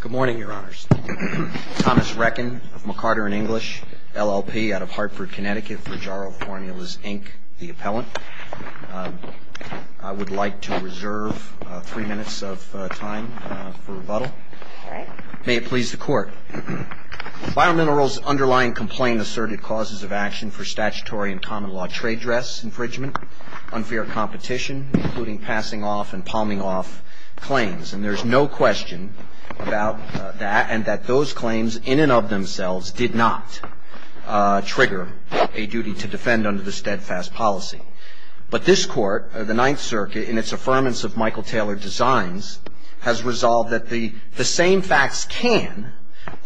Good morning, Your Honors. Thomas Reckin of McCarter & English, LLP, out of Hartford, Connecticut, for Jarrow Formulas, Inc., the appellant. I would like to reserve three minutes of time for rebuttal. May it please the Court. Biominerals underlying complaint asserted causes of action for statutory and common law trade dress infringement, unfair competition, including passing off and palming off claims. And there's no question about that and that those claims in and of themselves did not trigger a duty to defend under the steadfast policy. But this Court, the Ninth Circuit, in its affirmance of Michael Taylor Designs, has resolved that the same facts can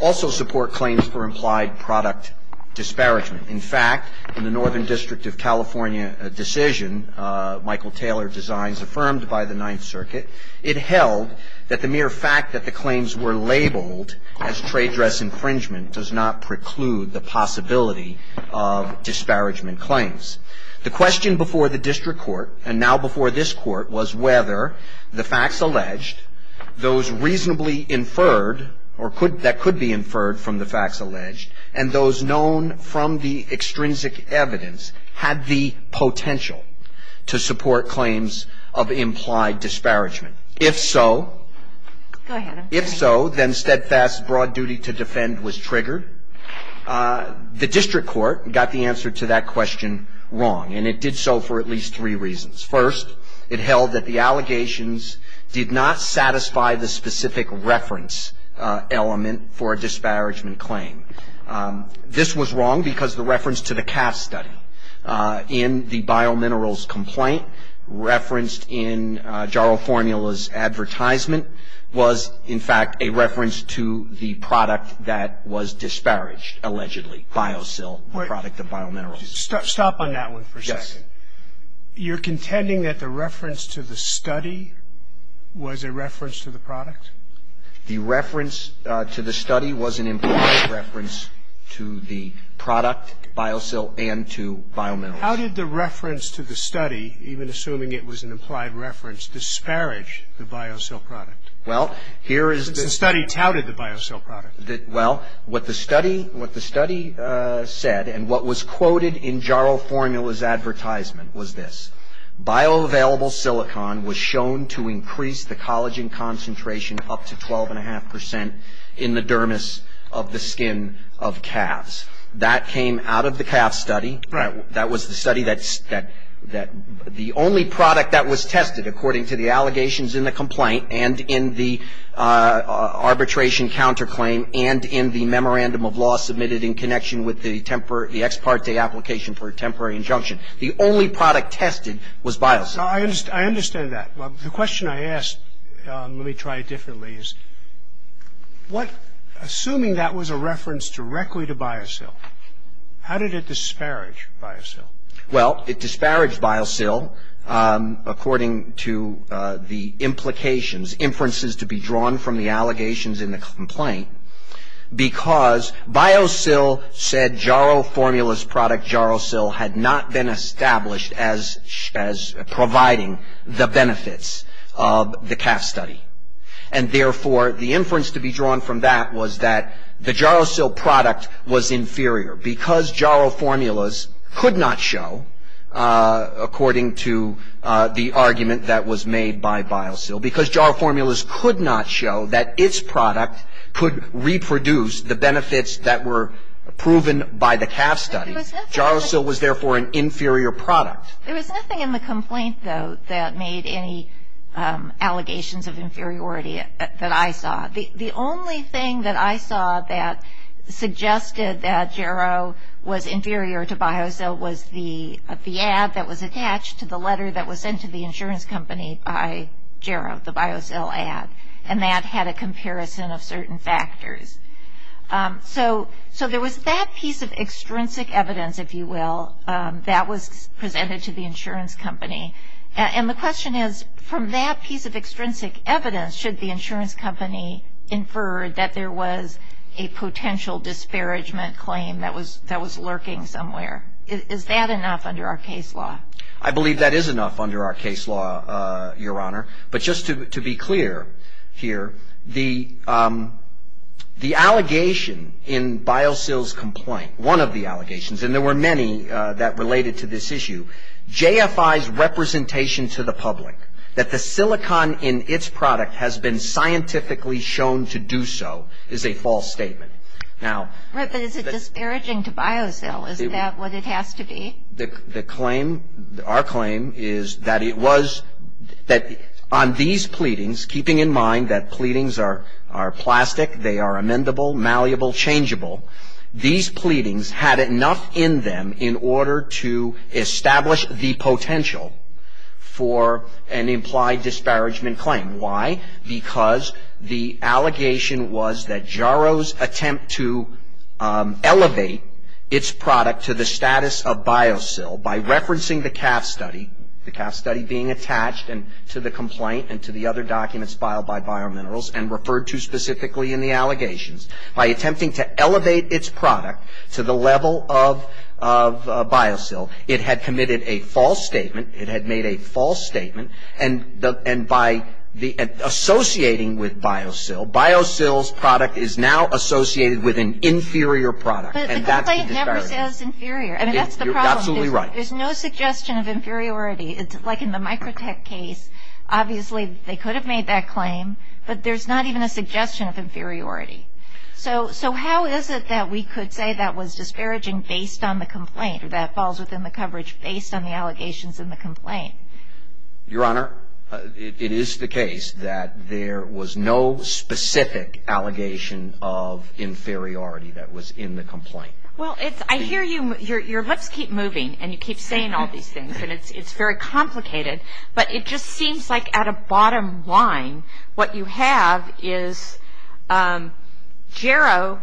also support claims for implied product disparagement. In fact, in the Northern District of California decision, Michael Taylor Designs affirmed by the Ninth Circuit, it held that the mere fact that the claims were labeled as trade dress infringement does not preclude the possibility of disparagement claims. The question before the District Court, and now before this Court, was whether the facts alleged, those reasonably inferred, or that could be inferred from the facts alleged, and those known from the extrinsic evidence had the potential to support claims of implied disparagement. If so, if so, then steadfast broad duty to defend was triggered. The District Court got the answer to that question wrong and it did so for at least three reasons. First, it held that the allegations did not satisfy the specific reference element for a disparagement claim. This was wrong because the reference to the CAF study in the biominerals complaint referenced in Jaro Formula's advertisement was, in fact, a reference to the product that was disparaged, allegedly, BioSil, the product of biominerals. Stop on that one for a second. Yes. You're contending that the reference to the study was a reference to the product? The reference to the study was an implied reference to the product, BioSil, and to biominerals. How did the reference to the study, even assuming it was an implied reference, disparage the BioSil product? Well, here is the... Since the study touted the BioSil product. Well, what the study said and what was quoted in Jaro Formula's advertisement was this. Bioavailable silicon was shown to increase the collagen concentration up to 12.5 percent in the dermis of the skin of calves. That came out of the CAF study. Right. That was the study that the only product that was tested, according to the allegations in the complaint and in the arbitration counterclaim and in the memorandum of law submitted in connection with the ex parte application for a temporary injunction, the only product tested was BioSil. I understand that. The question I asked, let me try it differently, is what, assuming that was a reference directly to BioSil, how did it disparage BioSil? Well, it disparaged BioSil according to the implications, inferences to be drawn from the allegations in the complaint because BioSil said Jaro Formula's product, JaroSil, had not been established as providing the benefits of the CAF study. And therefore, the inference to be drawn from that was that the JaroSil product was inferior because Jaro Formula's could not show, according to the argument that was made by BioSil, because Jaro Formula's could not show that its product could reproduce the benefits that were proven by the CAF study. JaroSil was therefore an inferior product. There was nothing in the complaint, though, that made any allegations of inferiority that I saw. The only thing that I saw that suggested that Jaro was inferior to BioSil was the ad that was attached to the letter that was sent to the insurance company by Jaro, the BioSil ad, and that had a comparison of certain factors. So there was that piece of extrinsic evidence, if you will, that was presented to the insurance company. And the question is, from that piece of extrinsic evidence, should the insurance company infer that there was a potential disparagement claim that was lurking somewhere? Is that enough under our case law? I believe that is enough under our case law, Your Honor. But just to be clear here, the allegation in BioSil's complaint, one of the allegations, and there were many that related to this issue, JFI's representation to the public that the silicon in its product has been scientifically shown to do so is a false statement. Right, but is it disparaging to BioSil? Is that what it has to be? Our claim is that on these pleadings, keeping in mind that pleadings are plastic, they are amendable, malleable, changeable, these pleadings had enough in them in order to establish the potential for an implied disparagement claim. Why? Because the allegation was that Jaro's attempt to elevate its product to the status of BioSil by referencing the CAF study, the CAF study being attached to the complaint and to the other documents filed by Biominerals and referred to specifically in the allegations, by attempting to elevate its product to the level of BioSil, it had committed a false statement, it had made a false statement, and by associating with BioSil, BioSil's product is now associated with an inferior product. But the complaint never says inferior. I mean, that's the problem. You're absolutely right. There's no suggestion of inferiority. It's like in the Microtech case. Obviously, they could have made that claim, but there's not even a suggestion of inferiority. So how is it that we could say that was disparaging based on the complaint or that falls within the coverage based on the allegations in the complaint? Your Honor, it is the case that there was no specific allegation of inferiority that was in the complaint. Well, I hear you. Your lips keep moving and you keep saying all these things, and it's very complicated, but it just seems like at a bottom line what you have is JARO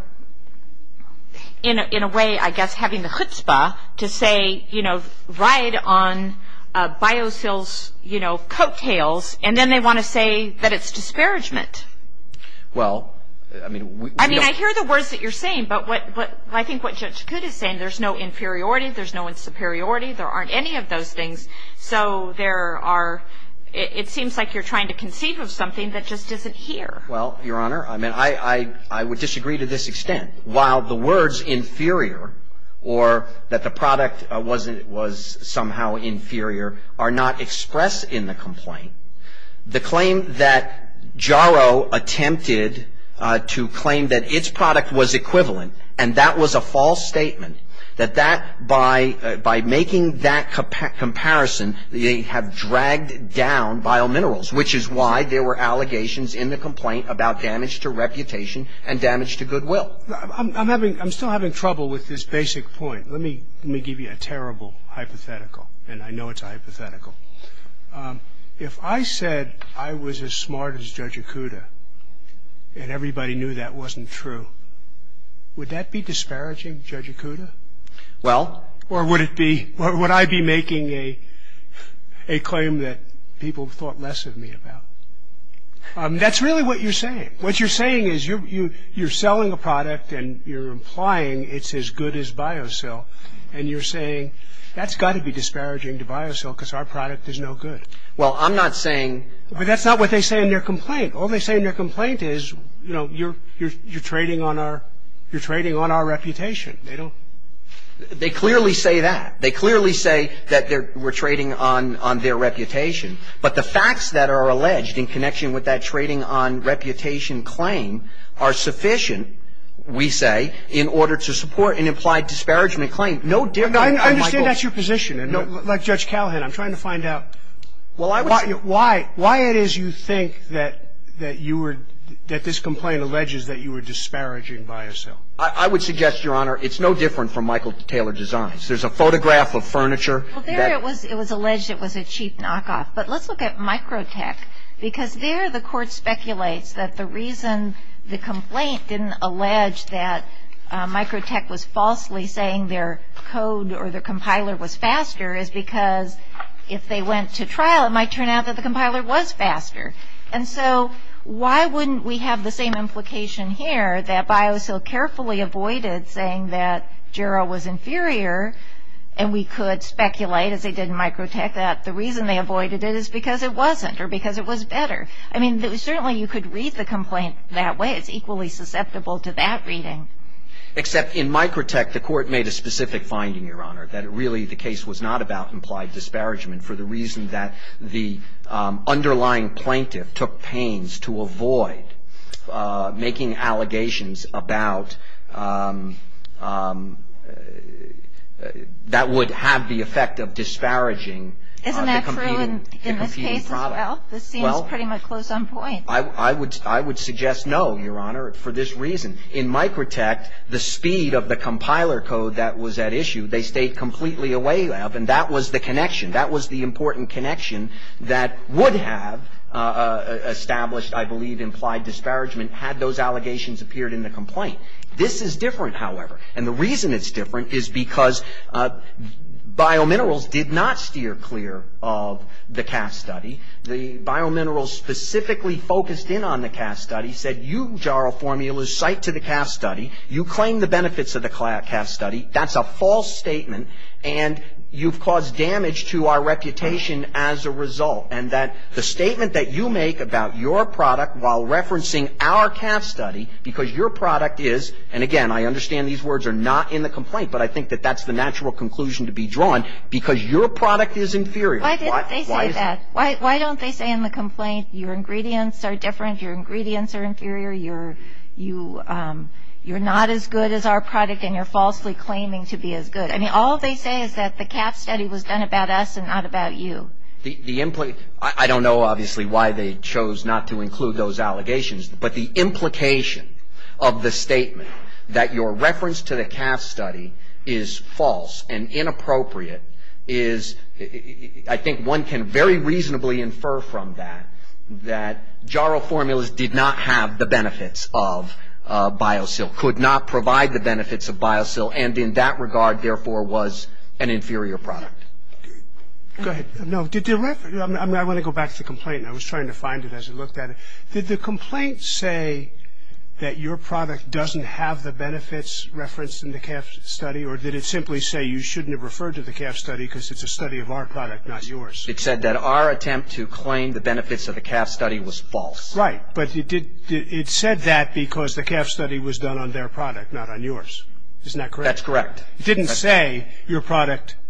in a way, I guess, having the chutzpah to say, you know, ride on BioSil's, you know, coattails, and then they want to say that it's disparagement. Well, I mean, we don't – I mean, I hear the words that you're saying, but I think what Judge Coote is saying, there's no inferiority, there's no superiority, there aren't any of those things, so there are – it seems like you're trying to conceive of something that just isn't here. Well, Your Honor, I mean, I would disagree to this extent. While the words inferior or that the product was somehow inferior are not expressed in the complaint, the claim that JARO attempted to claim that its product was equivalent and that was a false statement, that that – by making that comparison, they have dragged down BioMinerals, which is why there were allegations in the complaint about damage to reputation and damage to goodwill. I'm having – I'm still having trouble with this basic point. Let me give you a terrible hypothetical, and I know it's a hypothetical. If I said I was as smart as Judge Acuda and everybody knew that wasn't true, would that be disparaging to Judge Acuda? Well – Or would it be – would I be making a claim that people thought less of me about? That's really what you're saying. What you're saying is you're selling a product and you're implying it's as good as BioSil and you're saying that's got to be disparaging to BioSil because our product is no good. Well, I'm not saying – But that's not what they say in their complaint. All they say in their complaint is, you know, you're trading on our reputation. They don't – They clearly say that. They clearly say that we're trading on their reputation. But the facts that are alleged in connection with that trading on reputation claim are sufficient, we say, in order to support an implied disparagement claim. No different than Michael – I understand that's your position. Like Judge Callahan, I'm trying to find out why it is you think that you were – that this complaint alleges that you were disparaging BioSil. I would suggest, Your Honor, it's no different from Michael Taylor Designs. There's a photograph of furniture that – Well, there it was alleged it was a cheap knockoff. But let's look at Microtech because there the court speculates that the reason the complaint didn't allege that Microtech was falsely saying their code or their compiler was faster is because if they went to trial, it might turn out that the compiler was faster. And so why wouldn't we have the same implication here that BioSil carefully avoided saying that Jera was inferior and we could speculate, as they did in Microtech, that the reason they avoided it is because it wasn't or because it was better. I mean, certainly you could read the complaint that way. It's equally susceptible to that reading. Except in Microtech, the court made a specific finding, Your Honor, that really the case was not about implied disparagement for the reason that the underlying plaintiff took pains to avoid making allegations about – that would have the effect of disparaging the competing product. Isn't that true in this case as well? This seems pretty much close on point. I would suggest no, Your Honor, for this reason. In Microtech, the speed of the compiler code that was at issue, they stayed completely away of, and that was the connection. That was the important connection that would have established, I believe, implied disparagement had those allegations appeared in the complaint. This is different, however. And the reason it's different is because biominerals did not steer clear of the CAF study. The biominerals specifically focused in on the CAF study, said, You, Jara Formulas, cite to the CAF study. You claim the benefits of the CAF study. That's a false statement, and you've caused damage to our reputation as a result, and that the statement that you make about your product while referencing our CAF study, because your product is – and, again, I understand these words are not in the complaint, but I think that that's the natural conclusion to be drawn – because your product is inferior. Why didn't they say that? Why don't they say in the complaint, Your ingredients are different, Your ingredients are inferior, You're not as good as our product, and you're falsely claiming to be as good. I mean, all they say is that the CAF study was done about us and not about you. The – I don't know, obviously, why they chose not to include those allegations, but the implication of the statement that your reference to the CAF study is false and inappropriate is – could not provide the benefits of BioSil, and in that regard, therefore, was an inferior product. Go ahead. No, did the – I want to go back to the complaint. I was trying to find it as I looked at it. Did the complaint say that your product doesn't have the benefits referenced in the CAF study, or did it simply say you shouldn't have referred to the CAF study because it's a study of our product, not yours? It said that our attempt to claim the benefits of the CAF study was false. Right, but it did – it said that because the CAF study was done on their product, not on yours. Isn't that correct? That's correct. It didn't say your product –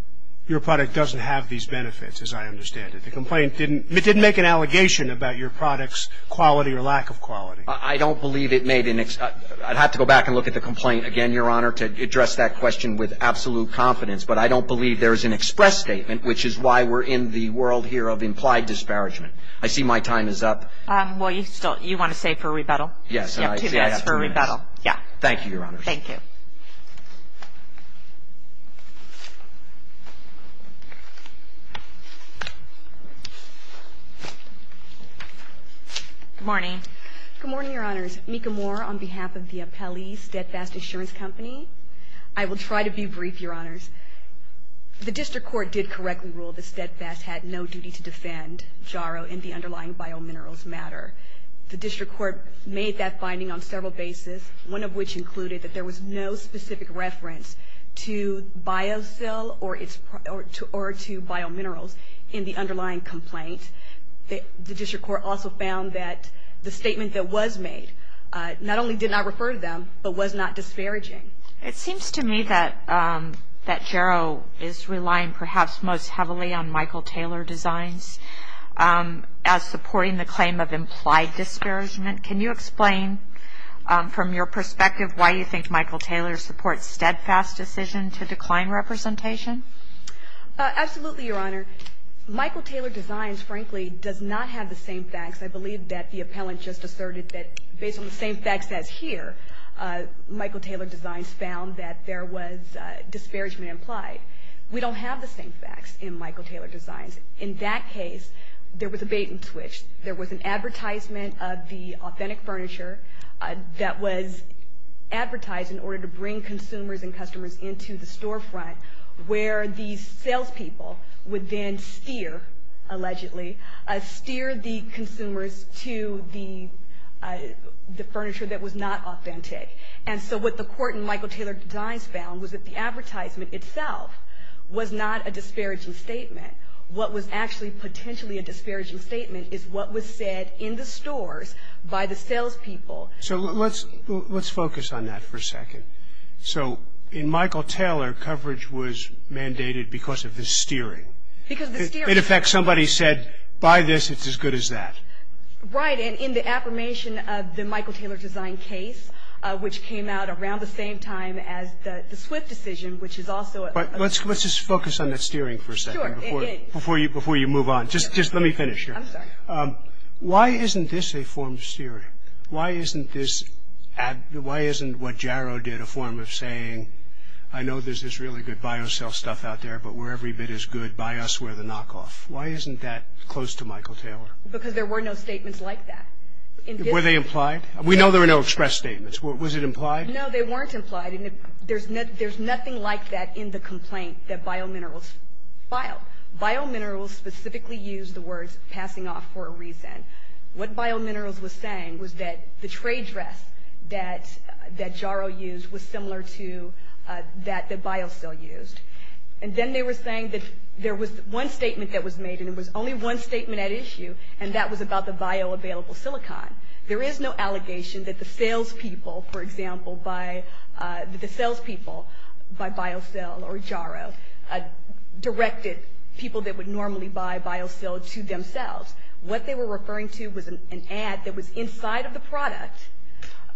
your product doesn't have these benefits, as I understand it. The complaint didn't – it didn't make an allegation about your product's quality or lack of quality. I don't believe it made an – I'd have to go back and look at the complaint again, Your Honor, to address that question with absolute confidence, but I don't believe there is an express statement, which is why we're in the world here of implied disparagement. I see my time is up. Well, you still – you want to say for rebuttal? Yes. Yes, for rebuttal. Yeah. Thank you, Your Honors. Thank you. Good morning. Good morning, Your Honors. Mika Moore on behalf of the Apelli Steadfast Insurance Company. I will try to be brief, Your Honors. The district court did correctly rule that Steadfast had no duty to defend JARO and the underlying biominerals matter. The district court made that finding on several bases, one of which included that there was no specific reference to biocell or to biominerals in the underlying complaint. The district court also found that the statement that was made not only did not refer to them, but was not disparaging. It seems to me that JARO is relying perhaps most heavily on Michael Taylor Designs as supporting the claim of implied disparagement. Can you explain from your perspective why you think Michael Taylor supports Steadfast's decision to decline representation? Absolutely, Your Honor. Michael Taylor Designs, frankly, does not have the same facts. I believe that the appellant just asserted that based on the same facts as here, Michael Taylor Designs found that there was disparagement implied. We don't have the same facts in Michael Taylor Designs. In that case, there was a bait-and-switch. There was an advertisement of the authentic furniture that was advertised in order to bring consumers and customers into the storefront where the salespeople would then steer, allegedly, steer the consumers to the furniture that was not authentic. And so what the court in Michael Taylor Designs found was that the advertisement itself was not a disparaging statement. What was actually potentially a disparaging statement is what was said in the stores by the salespeople. So let's focus on that for a second. So in Michael Taylor, coverage was mandated because of the steering. Because the steering. In effect, somebody said, buy this, it's as good as that. Right. And in the affirmation of the Michael Taylor Design case, which came out around the same time as the Swift decision, which is also a... Let's just focus on that steering for a second. Sure. Before you move on. Just let me finish here. I'm sorry. Why isn't this a form of steering? Why isn't this... Why isn't what Jarrow did a form of saying, I know there's this really good biocell stuff out there, but where every bit is good, buy us where the knockoff. Why isn't that close to Michael Taylor? Because there were no statements like that. Were they implied? We know there were no express statements. Was it implied? No, they weren't implied. And there's nothing like that in the complaint that BioMinerals filed. BioMinerals specifically used the words, passing off for a reason. What BioMinerals was saying was that the tray dress that Jarrow used was similar to that that BioCell used. And then they were saying that there was one statement that was made, and it was only one statement at issue, and that was about the bioavailable silicon. There is no allegation that the salespeople, for example, by BioCell or Jarrow directed people that would normally buy BioCell to themselves. What they were referring to was an ad that was inside of the product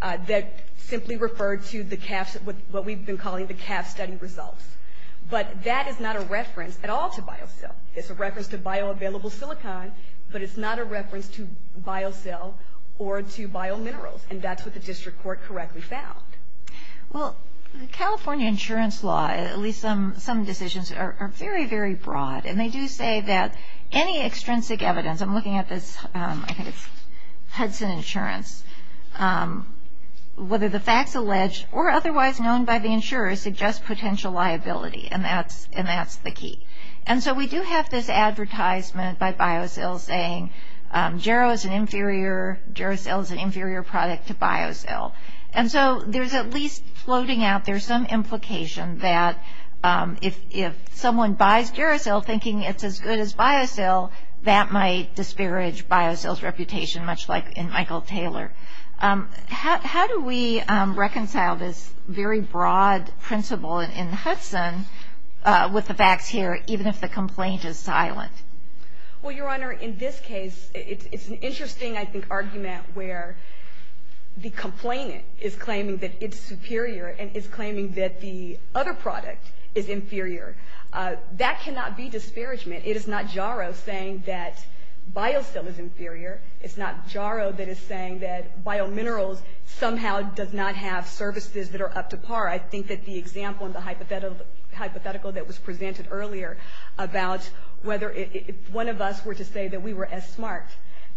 that simply referred to what we've been calling the CAF study results. But that is not a reference at all to BioCell. It's a reference to bioavailable silicon, but it's not a reference to BioCell or to BioMinerals. And that's what the district court correctly found. Well, the California insurance law, at least some decisions, are very, very broad. And they do say that any extrinsic evidence, I'm looking at this, I think it's Hudson Insurance, whether the facts alleged or otherwise known by the insurer suggest potential liability, and that's the key. And so we do have this advertisement by BioCell saying Jarrow is an inferior, Jarrow Cell is an inferior product to BioCell. And so there's at least floating out there some implication that if someone buys Jarrow Cell thinking it's as good as BioCell, that might disparage BioCell's reputation, much like in Michael Taylor. How do we reconcile this very broad principle in Hudson with the facts here, even if the complaint is silent? Well, Your Honor, in this case, it's an interesting, I think, argument where the complainant is claiming that it's superior and is claiming that the other product is inferior. That cannot be disparagement. It is not Jarrow saying that BioCell is inferior. It's not Jarrow that is saying that biominerals somehow does not have services that are up to par. I think that the example in the hypothetical that was presented earlier about whether if one of us were to say that we were as smart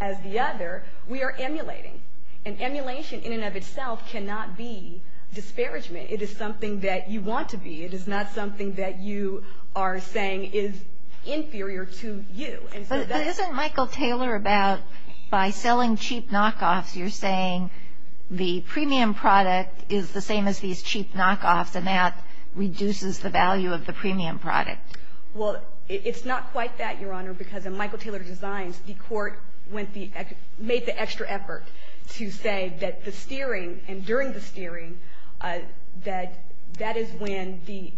as the other, we are emulating. And emulation in and of itself cannot be disparagement. It is something that you want to be. It is not something that you are saying is inferior to you. But isn't Michael Taylor about by selling cheap knockoffs, you're saying the premium product is the same as these cheap knockoffs, and that reduces the value of the premium product? Well, it's not quite that, Your Honor, because in Michael Taylor's designs, the court made the extra effort to say that the steering and during the steering, that that is when the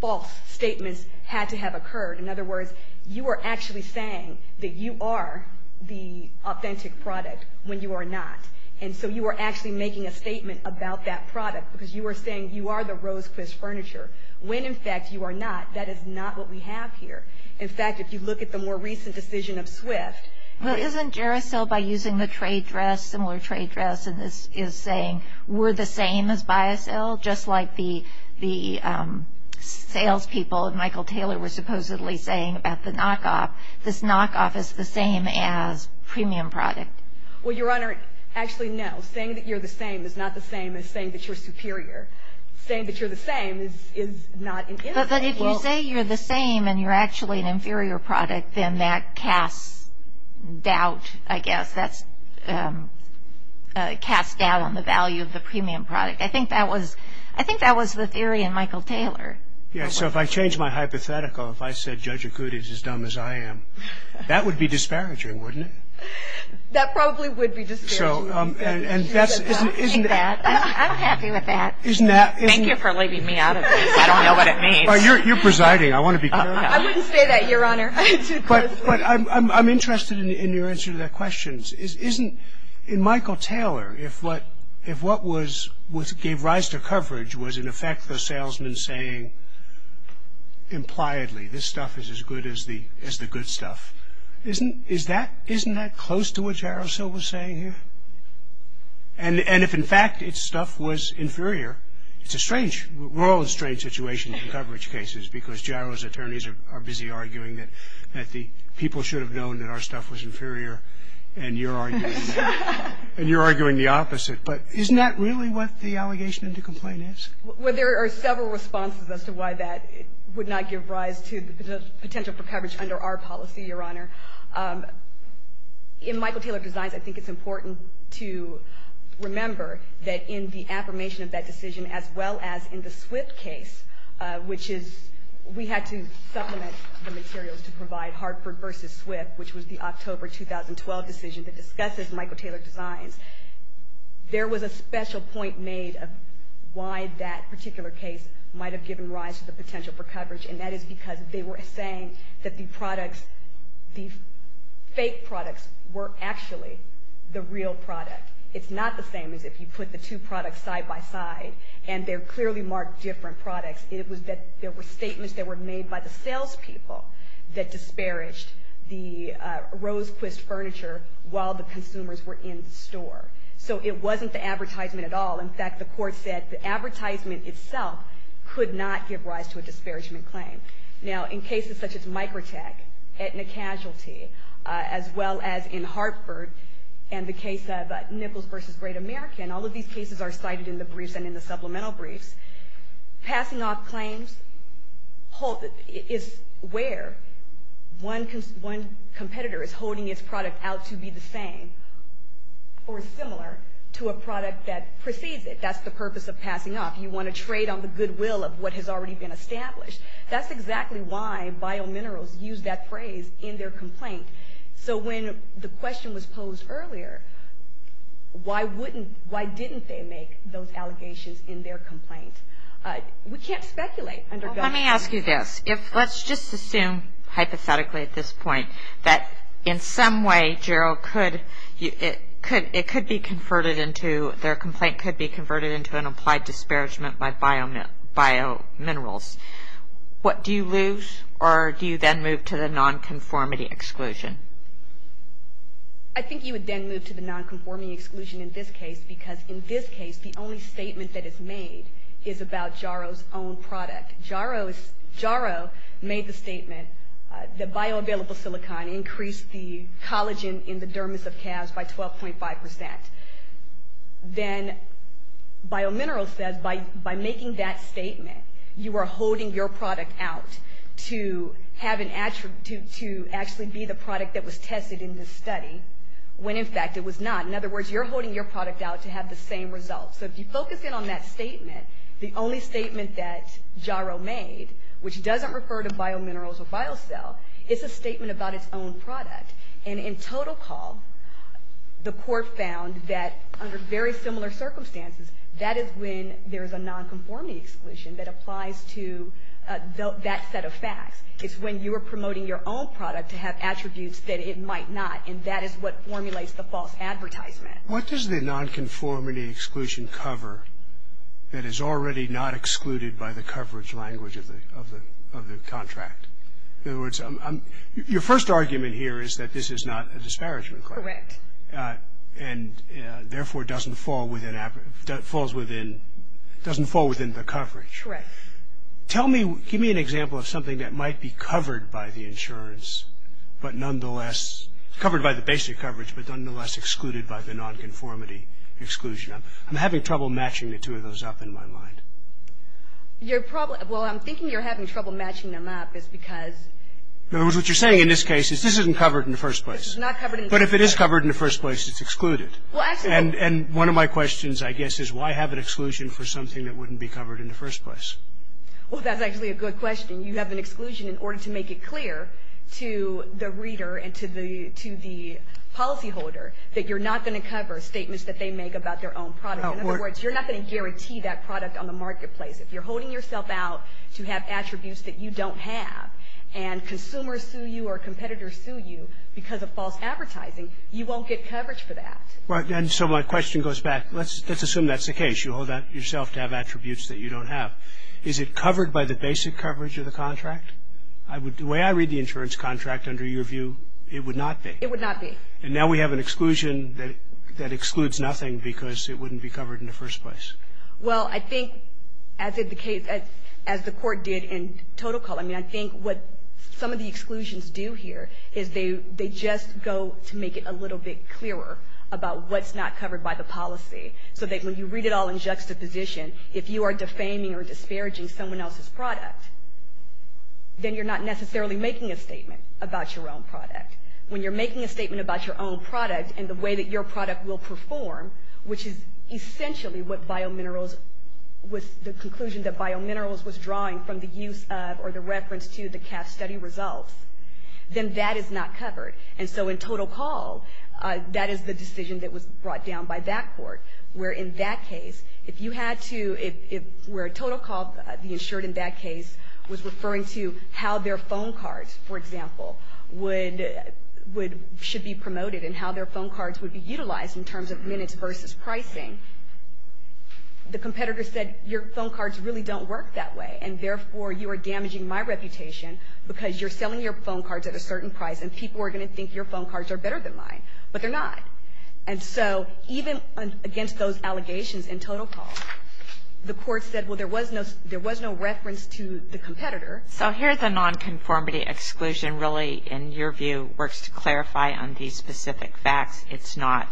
false statements had to have occurred. In other words, you are actually saying that you are the authentic product when you are not. And so you are actually making a statement about that product because you are saying you are the rose-quiz furniture. When, in fact, you are not, that is not what we have here. In fact, if you look at the more recent decision of Swift. Well, isn't Jarosel by using the trade dress, similar trade dress, and is saying we're the same as by a sale, just like the salespeople of Michael Taylor were supposedly saying about the knockoff. This knockoff is the same as premium product. Well, Your Honor, actually, no. Saying that you're the same is not the same as saying that you're superior. Saying that you're the same is not an insult. But if you say you're the same and you're actually an inferior product, then that casts doubt, I guess. That casts doubt on the value of the premium product. I think that was the theory in Michael Taylor. Yes, so if I change my hypothetical, if I said Judge Akut is as dumb as I am, that would be disparaging, wouldn't it? That probably would be disparaging. I'm happy with that. Thank you for leaving me out of this. I don't know what it means. You're presiding. I want to be clear. I wouldn't say that, Your Honor. But I'm interested in your answer to that question. In Michael Taylor, if what gave rise to coverage was, in effect, the salesman saying impliedly this stuff is as good as the good stuff, isn't that close to what Jarosel was saying here? And if, in fact, its stuff was inferior, it's a strange, we're all in strange situations in coverage cases because Jarosel's attorneys are busy arguing that the people should have known that our stuff was inferior and you're arguing the opposite. But isn't that really what the allegation in the complaint is? Well, there are several responses as to why that would not give rise to the potential for coverage under our policy, Your Honor. In Michael Taylor Designs, I think it's important to remember that in the affirmation of that decision, as well as in the Swift case, which is we had to supplement the materials to provide Hartford versus Swift, which was the October 2012 decision that discusses Michael Taylor Designs. There was a special point made of why that particular case might have given rise to the potential for coverage, and that is because they were saying that the products, the fake products were actually the real product. It's not the same as if you put the two products side by side and they're clearly marked different products. It was that there were statements that were made by the salespeople that disparaged the Rosequist furniture while the consumers were in the store. So it wasn't the advertisement at all. In fact, the court said the advertisement itself could not give rise to a disparagement claim. Now, in cases such as Microtech, Aetna Casualty, as well as in Hartford and the case of Nichols versus Great American, all of these cases are cited in the briefs and in the supplemental briefs. Passing off claims is where one competitor is holding his product out to be the same or similar to a product that precedes it. That's the purpose of passing off. You want to trade on the goodwill of what has already been established. That's exactly why biominerals use that phrase in their complaint. So when the question was posed earlier, why wouldn't, why didn't they make those allegations in their complaint? We can't speculate. Let me ask you this. Let's just assume hypothetically at this point that in some way, Jarrow, it could be converted into, their complaint could be converted into an applied disparagement by biominerals. What do you lose, or do you then move to the nonconformity exclusion? I think you would then move to the nonconformity exclusion in this case because in this case the only statement that is made is about Jarrow's own product. Jarrow made the statement that bioavailable silicon increased the collagen in the dermis of calves by 12.5%. Then biominerals says by making that statement, you are holding your product out to have an, to actually be the product that was tested in this study, when in fact it was not. In other words, you're holding your product out to have the same results. So if you focus in on that statement, the only statement that Jarrow made, which doesn't refer to biominerals or biocell, it's a statement about its own product. And in total call, the court found that under very similar circumstances, that is when there is a nonconformity exclusion that applies to that set of facts. It's when you are promoting your own product to have attributes that it might not, and that is what formulates the false advertisement. What does the nonconformity exclusion cover that is already not excluded by the coverage language of the contract? In other words, your first argument here is that this is not a disparagement claim. Correct. And therefore doesn't fall within, falls within, doesn't fall within the coverage. Correct. Tell me, give me an example of something that might be covered by the insurance, but nonetheless, covered by the basic coverage, but nonetheless excluded by the nonconformity exclusion. I'm having trouble matching the two of those up in my mind. Your problem, well, I'm thinking you're having trouble matching them up is because... In other words, what you're saying in this case is this isn't covered in the first place. This is not covered in the first place. But if it is covered in the first place, it's excluded. Well, actually... And one of my questions, I guess, is why have an exclusion for something that wouldn't be covered in the first place? Well, that's actually a good question. You have an exclusion in order to make it clear to the reader and to the policyholder that you're not going to cover statements that they make about their own product. In other words, you're not going to guarantee that product on the marketplace. If you're holding yourself out to have attributes that you don't have, and consumers sue you or competitors sue you because of false advertising, you won't get coverage for that. Right. And so my question goes back... Let's assume that's the case. You hold yourself to have attributes that you don't have. Is it covered by the basic coverage of the contract? The way I read the insurance contract, under your view, it would not be. It would not be. And now we have an exclusion that excludes nothing because it wouldn't be covered in the first place. Well, I think, as is the case, as the Court did in Total Call, I mean, I think what some of the exclusions do here is they just go to make it a little bit clearer about what's not covered by the policy so that when you read it all in juxtaposition, if you are defaming or disparaging someone else's product, then you're not necessarily making a statement about your own product. When you're making a statement about your own product and the way that your product will perform, which is essentially what Biominerals was, the conclusion that Biominerals was drawing from the use of or the reference to the CAF study results, then that is not covered. And so in Total Call, that is the decision that was brought down by that Court, where in that case, if you had to, where Total Call, the insured in that case, was referring to how their phone cards, for example, would, should be promoted and how their phone cards would be utilized in terms of minutes versus pricing, the competitor said your phone cards really don't work that way and therefore you are damaging my reputation because you're selling your phone cards at a certain price and people are going to think your phone cards are better than mine, but they're not. And so even against those allegations in Total Call, the Court said, well, there was no reference to the competitor. So here the nonconformity exclusion really, in your view, works to clarify on these specific facts. It's not.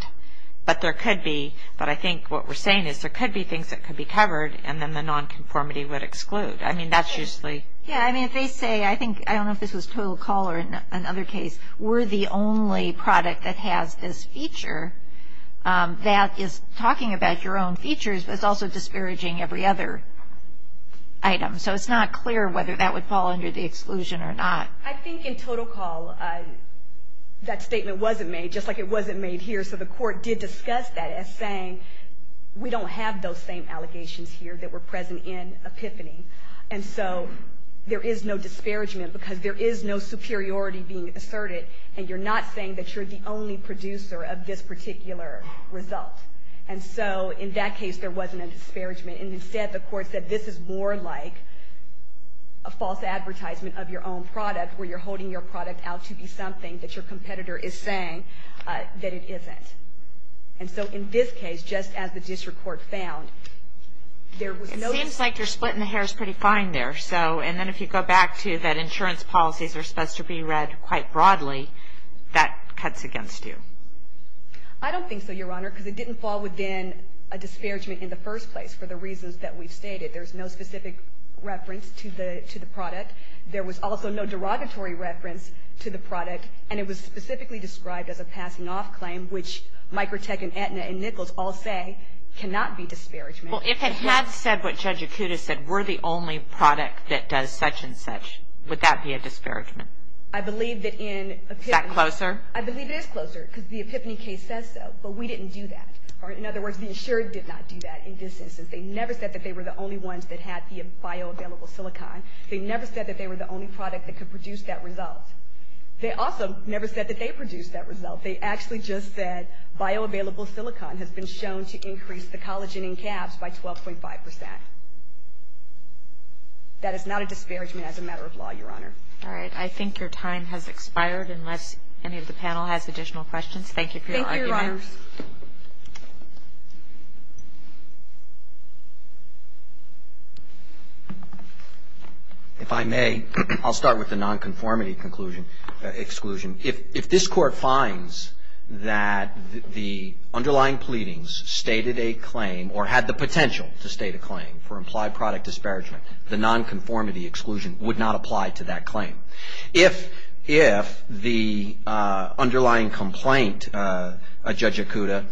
But there could be, but I think what we're saying is there could be things that could be covered and then the nonconformity would exclude. I mean, that's usually. Yeah, I mean, if they say, I think, I don't know if this was Total Call or another case, we're the only product that has this feature that is talking about your own features but it's also disparaging every other item. So it's not clear whether that would fall under the exclusion or not. I think in Total Call that statement wasn't made, just like it wasn't made here, so the Court did discuss that as saying we don't have those same allegations here that were present in Epiphany. And so there is no disparagement because there is no superiority being asserted and you're not saying that you're the only producer of this particular result. And so in that case, there wasn't a disparagement. And instead, the Court said this is more like a false advertisement of your own product where you're holding your product out to be something that your competitor is saying that it isn't. And so in this case, just as the district court found, there was no. It seems like your split in the hair is pretty fine there. And then if you go back to that insurance policies are supposed to be read quite broadly, that cuts against you. I don't think so, Your Honor, because it didn't fall within a disparagement in the first place for the reasons that we've stated. There's no specific reference to the product. There was also no derogatory reference to the product, and it was specifically described as a passing-off claim, which Microtech and Aetna and Nichols all say cannot be disparagement. Well, if it had said what Judge Acuda said, we're the only product that does such and such, would that be a disparagement? I believe that in Epiphany. Is that closer? I believe it is closer because the Epiphany case says so, but we didn't do that. In other words, the insurer did not do that in this instance. They never said that they were the only ones that had the bioavailable silicon. They never said that they were the only product that could produce that result. They also never said that they produced that result. They actually just said bioavailable silicon has been shown to increase the collagen in calves by 12.5%. That is not a disparagement as a matter of law, Your Honor. All right. I think your time has expired unless any of the panel has additional questions. Thank you for your argument. Thank you, Your Honors. If I may, I'll start with the nonconformity exclusion. If this Court finds that the underlying pleadings stated a claim or had the potential to state a claim for implied product disparagement, the nonconformity exclusion would not apply to that claim. If the underlying complaint, Judge Okuda,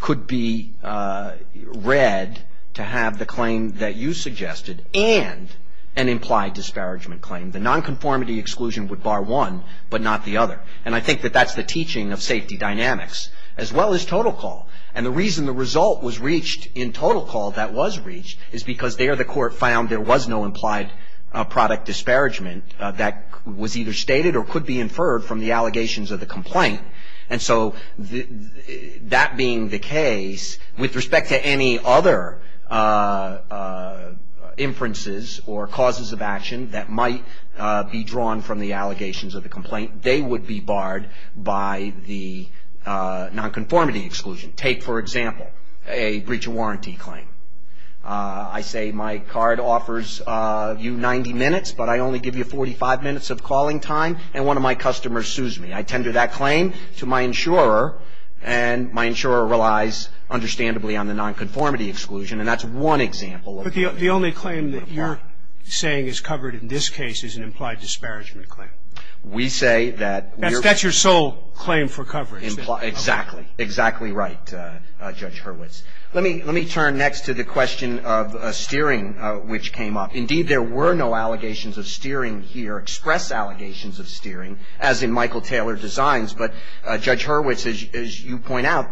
could be read to have the claim that you suggested and an implied disparagement claim, the nonconformity exclusion would bar one but not the other. And I think that that's the teaching of safety dynamics as well as total call. And the reason the result was reached in total call that was reached is because there the Court found there was no implied product disparagement that was either stated or could be inferred from the allegations of the complaint. And so that being the case, with respect to any other inferences or causes of action that might be drawn from the allegations of the complaint, they would be barred by the nonconformity exclusion. Take, for example, a breach of warranty claim. I say my card offers you 90 minutes, but I only give you 45 minutes of calling time, and one of my customers sues me. I tender that claim to my insurer, and my insurer relies understandably on the nonconformity exclusion, and that's one example. But the only claim that you're saying is covered in this case is an implied disparagement claim. We say that we're... That's your sole claim for coverage. Exactly. Exactly right, Judge Hurwitz. Let me turn next to the question of steering, which came up. Indeed, there were no allegations of steering here, express allegations of steering, as in Michael Taylor designs. But, Judge Hurwitz, as you point out,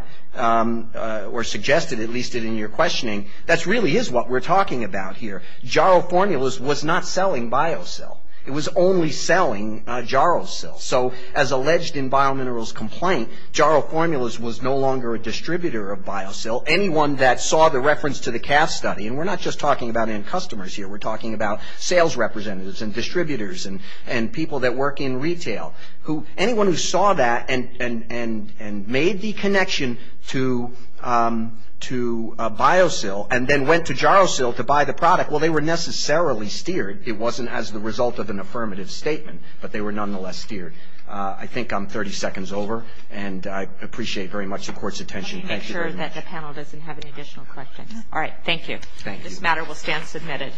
or suggested, at least in your questioning, that really is what we're talking about here. Jaro Formulas was not selling BioSil. It was only selling JaroSil. So, as alleged in BioMinerals' complaint, Jaro Formulas was no longer a distributor of BioSil. Anyone that saw the reference to the CAF study, and we're not just talking about end customers here, Anyone who saw that and made the connection to BioSil, and then went to JaroSil to buy the product, well, they were necessarily steered. It wasn't as the result of an affirmative statement, but they were nonetheless steered. I think I'm 30 seconds over, and I appreciate very much the Court's attention. Thank you very much. Let me make sure that the panel doesn't have any additional questions. All right, thank you. Thank you. This matter will stand submitted.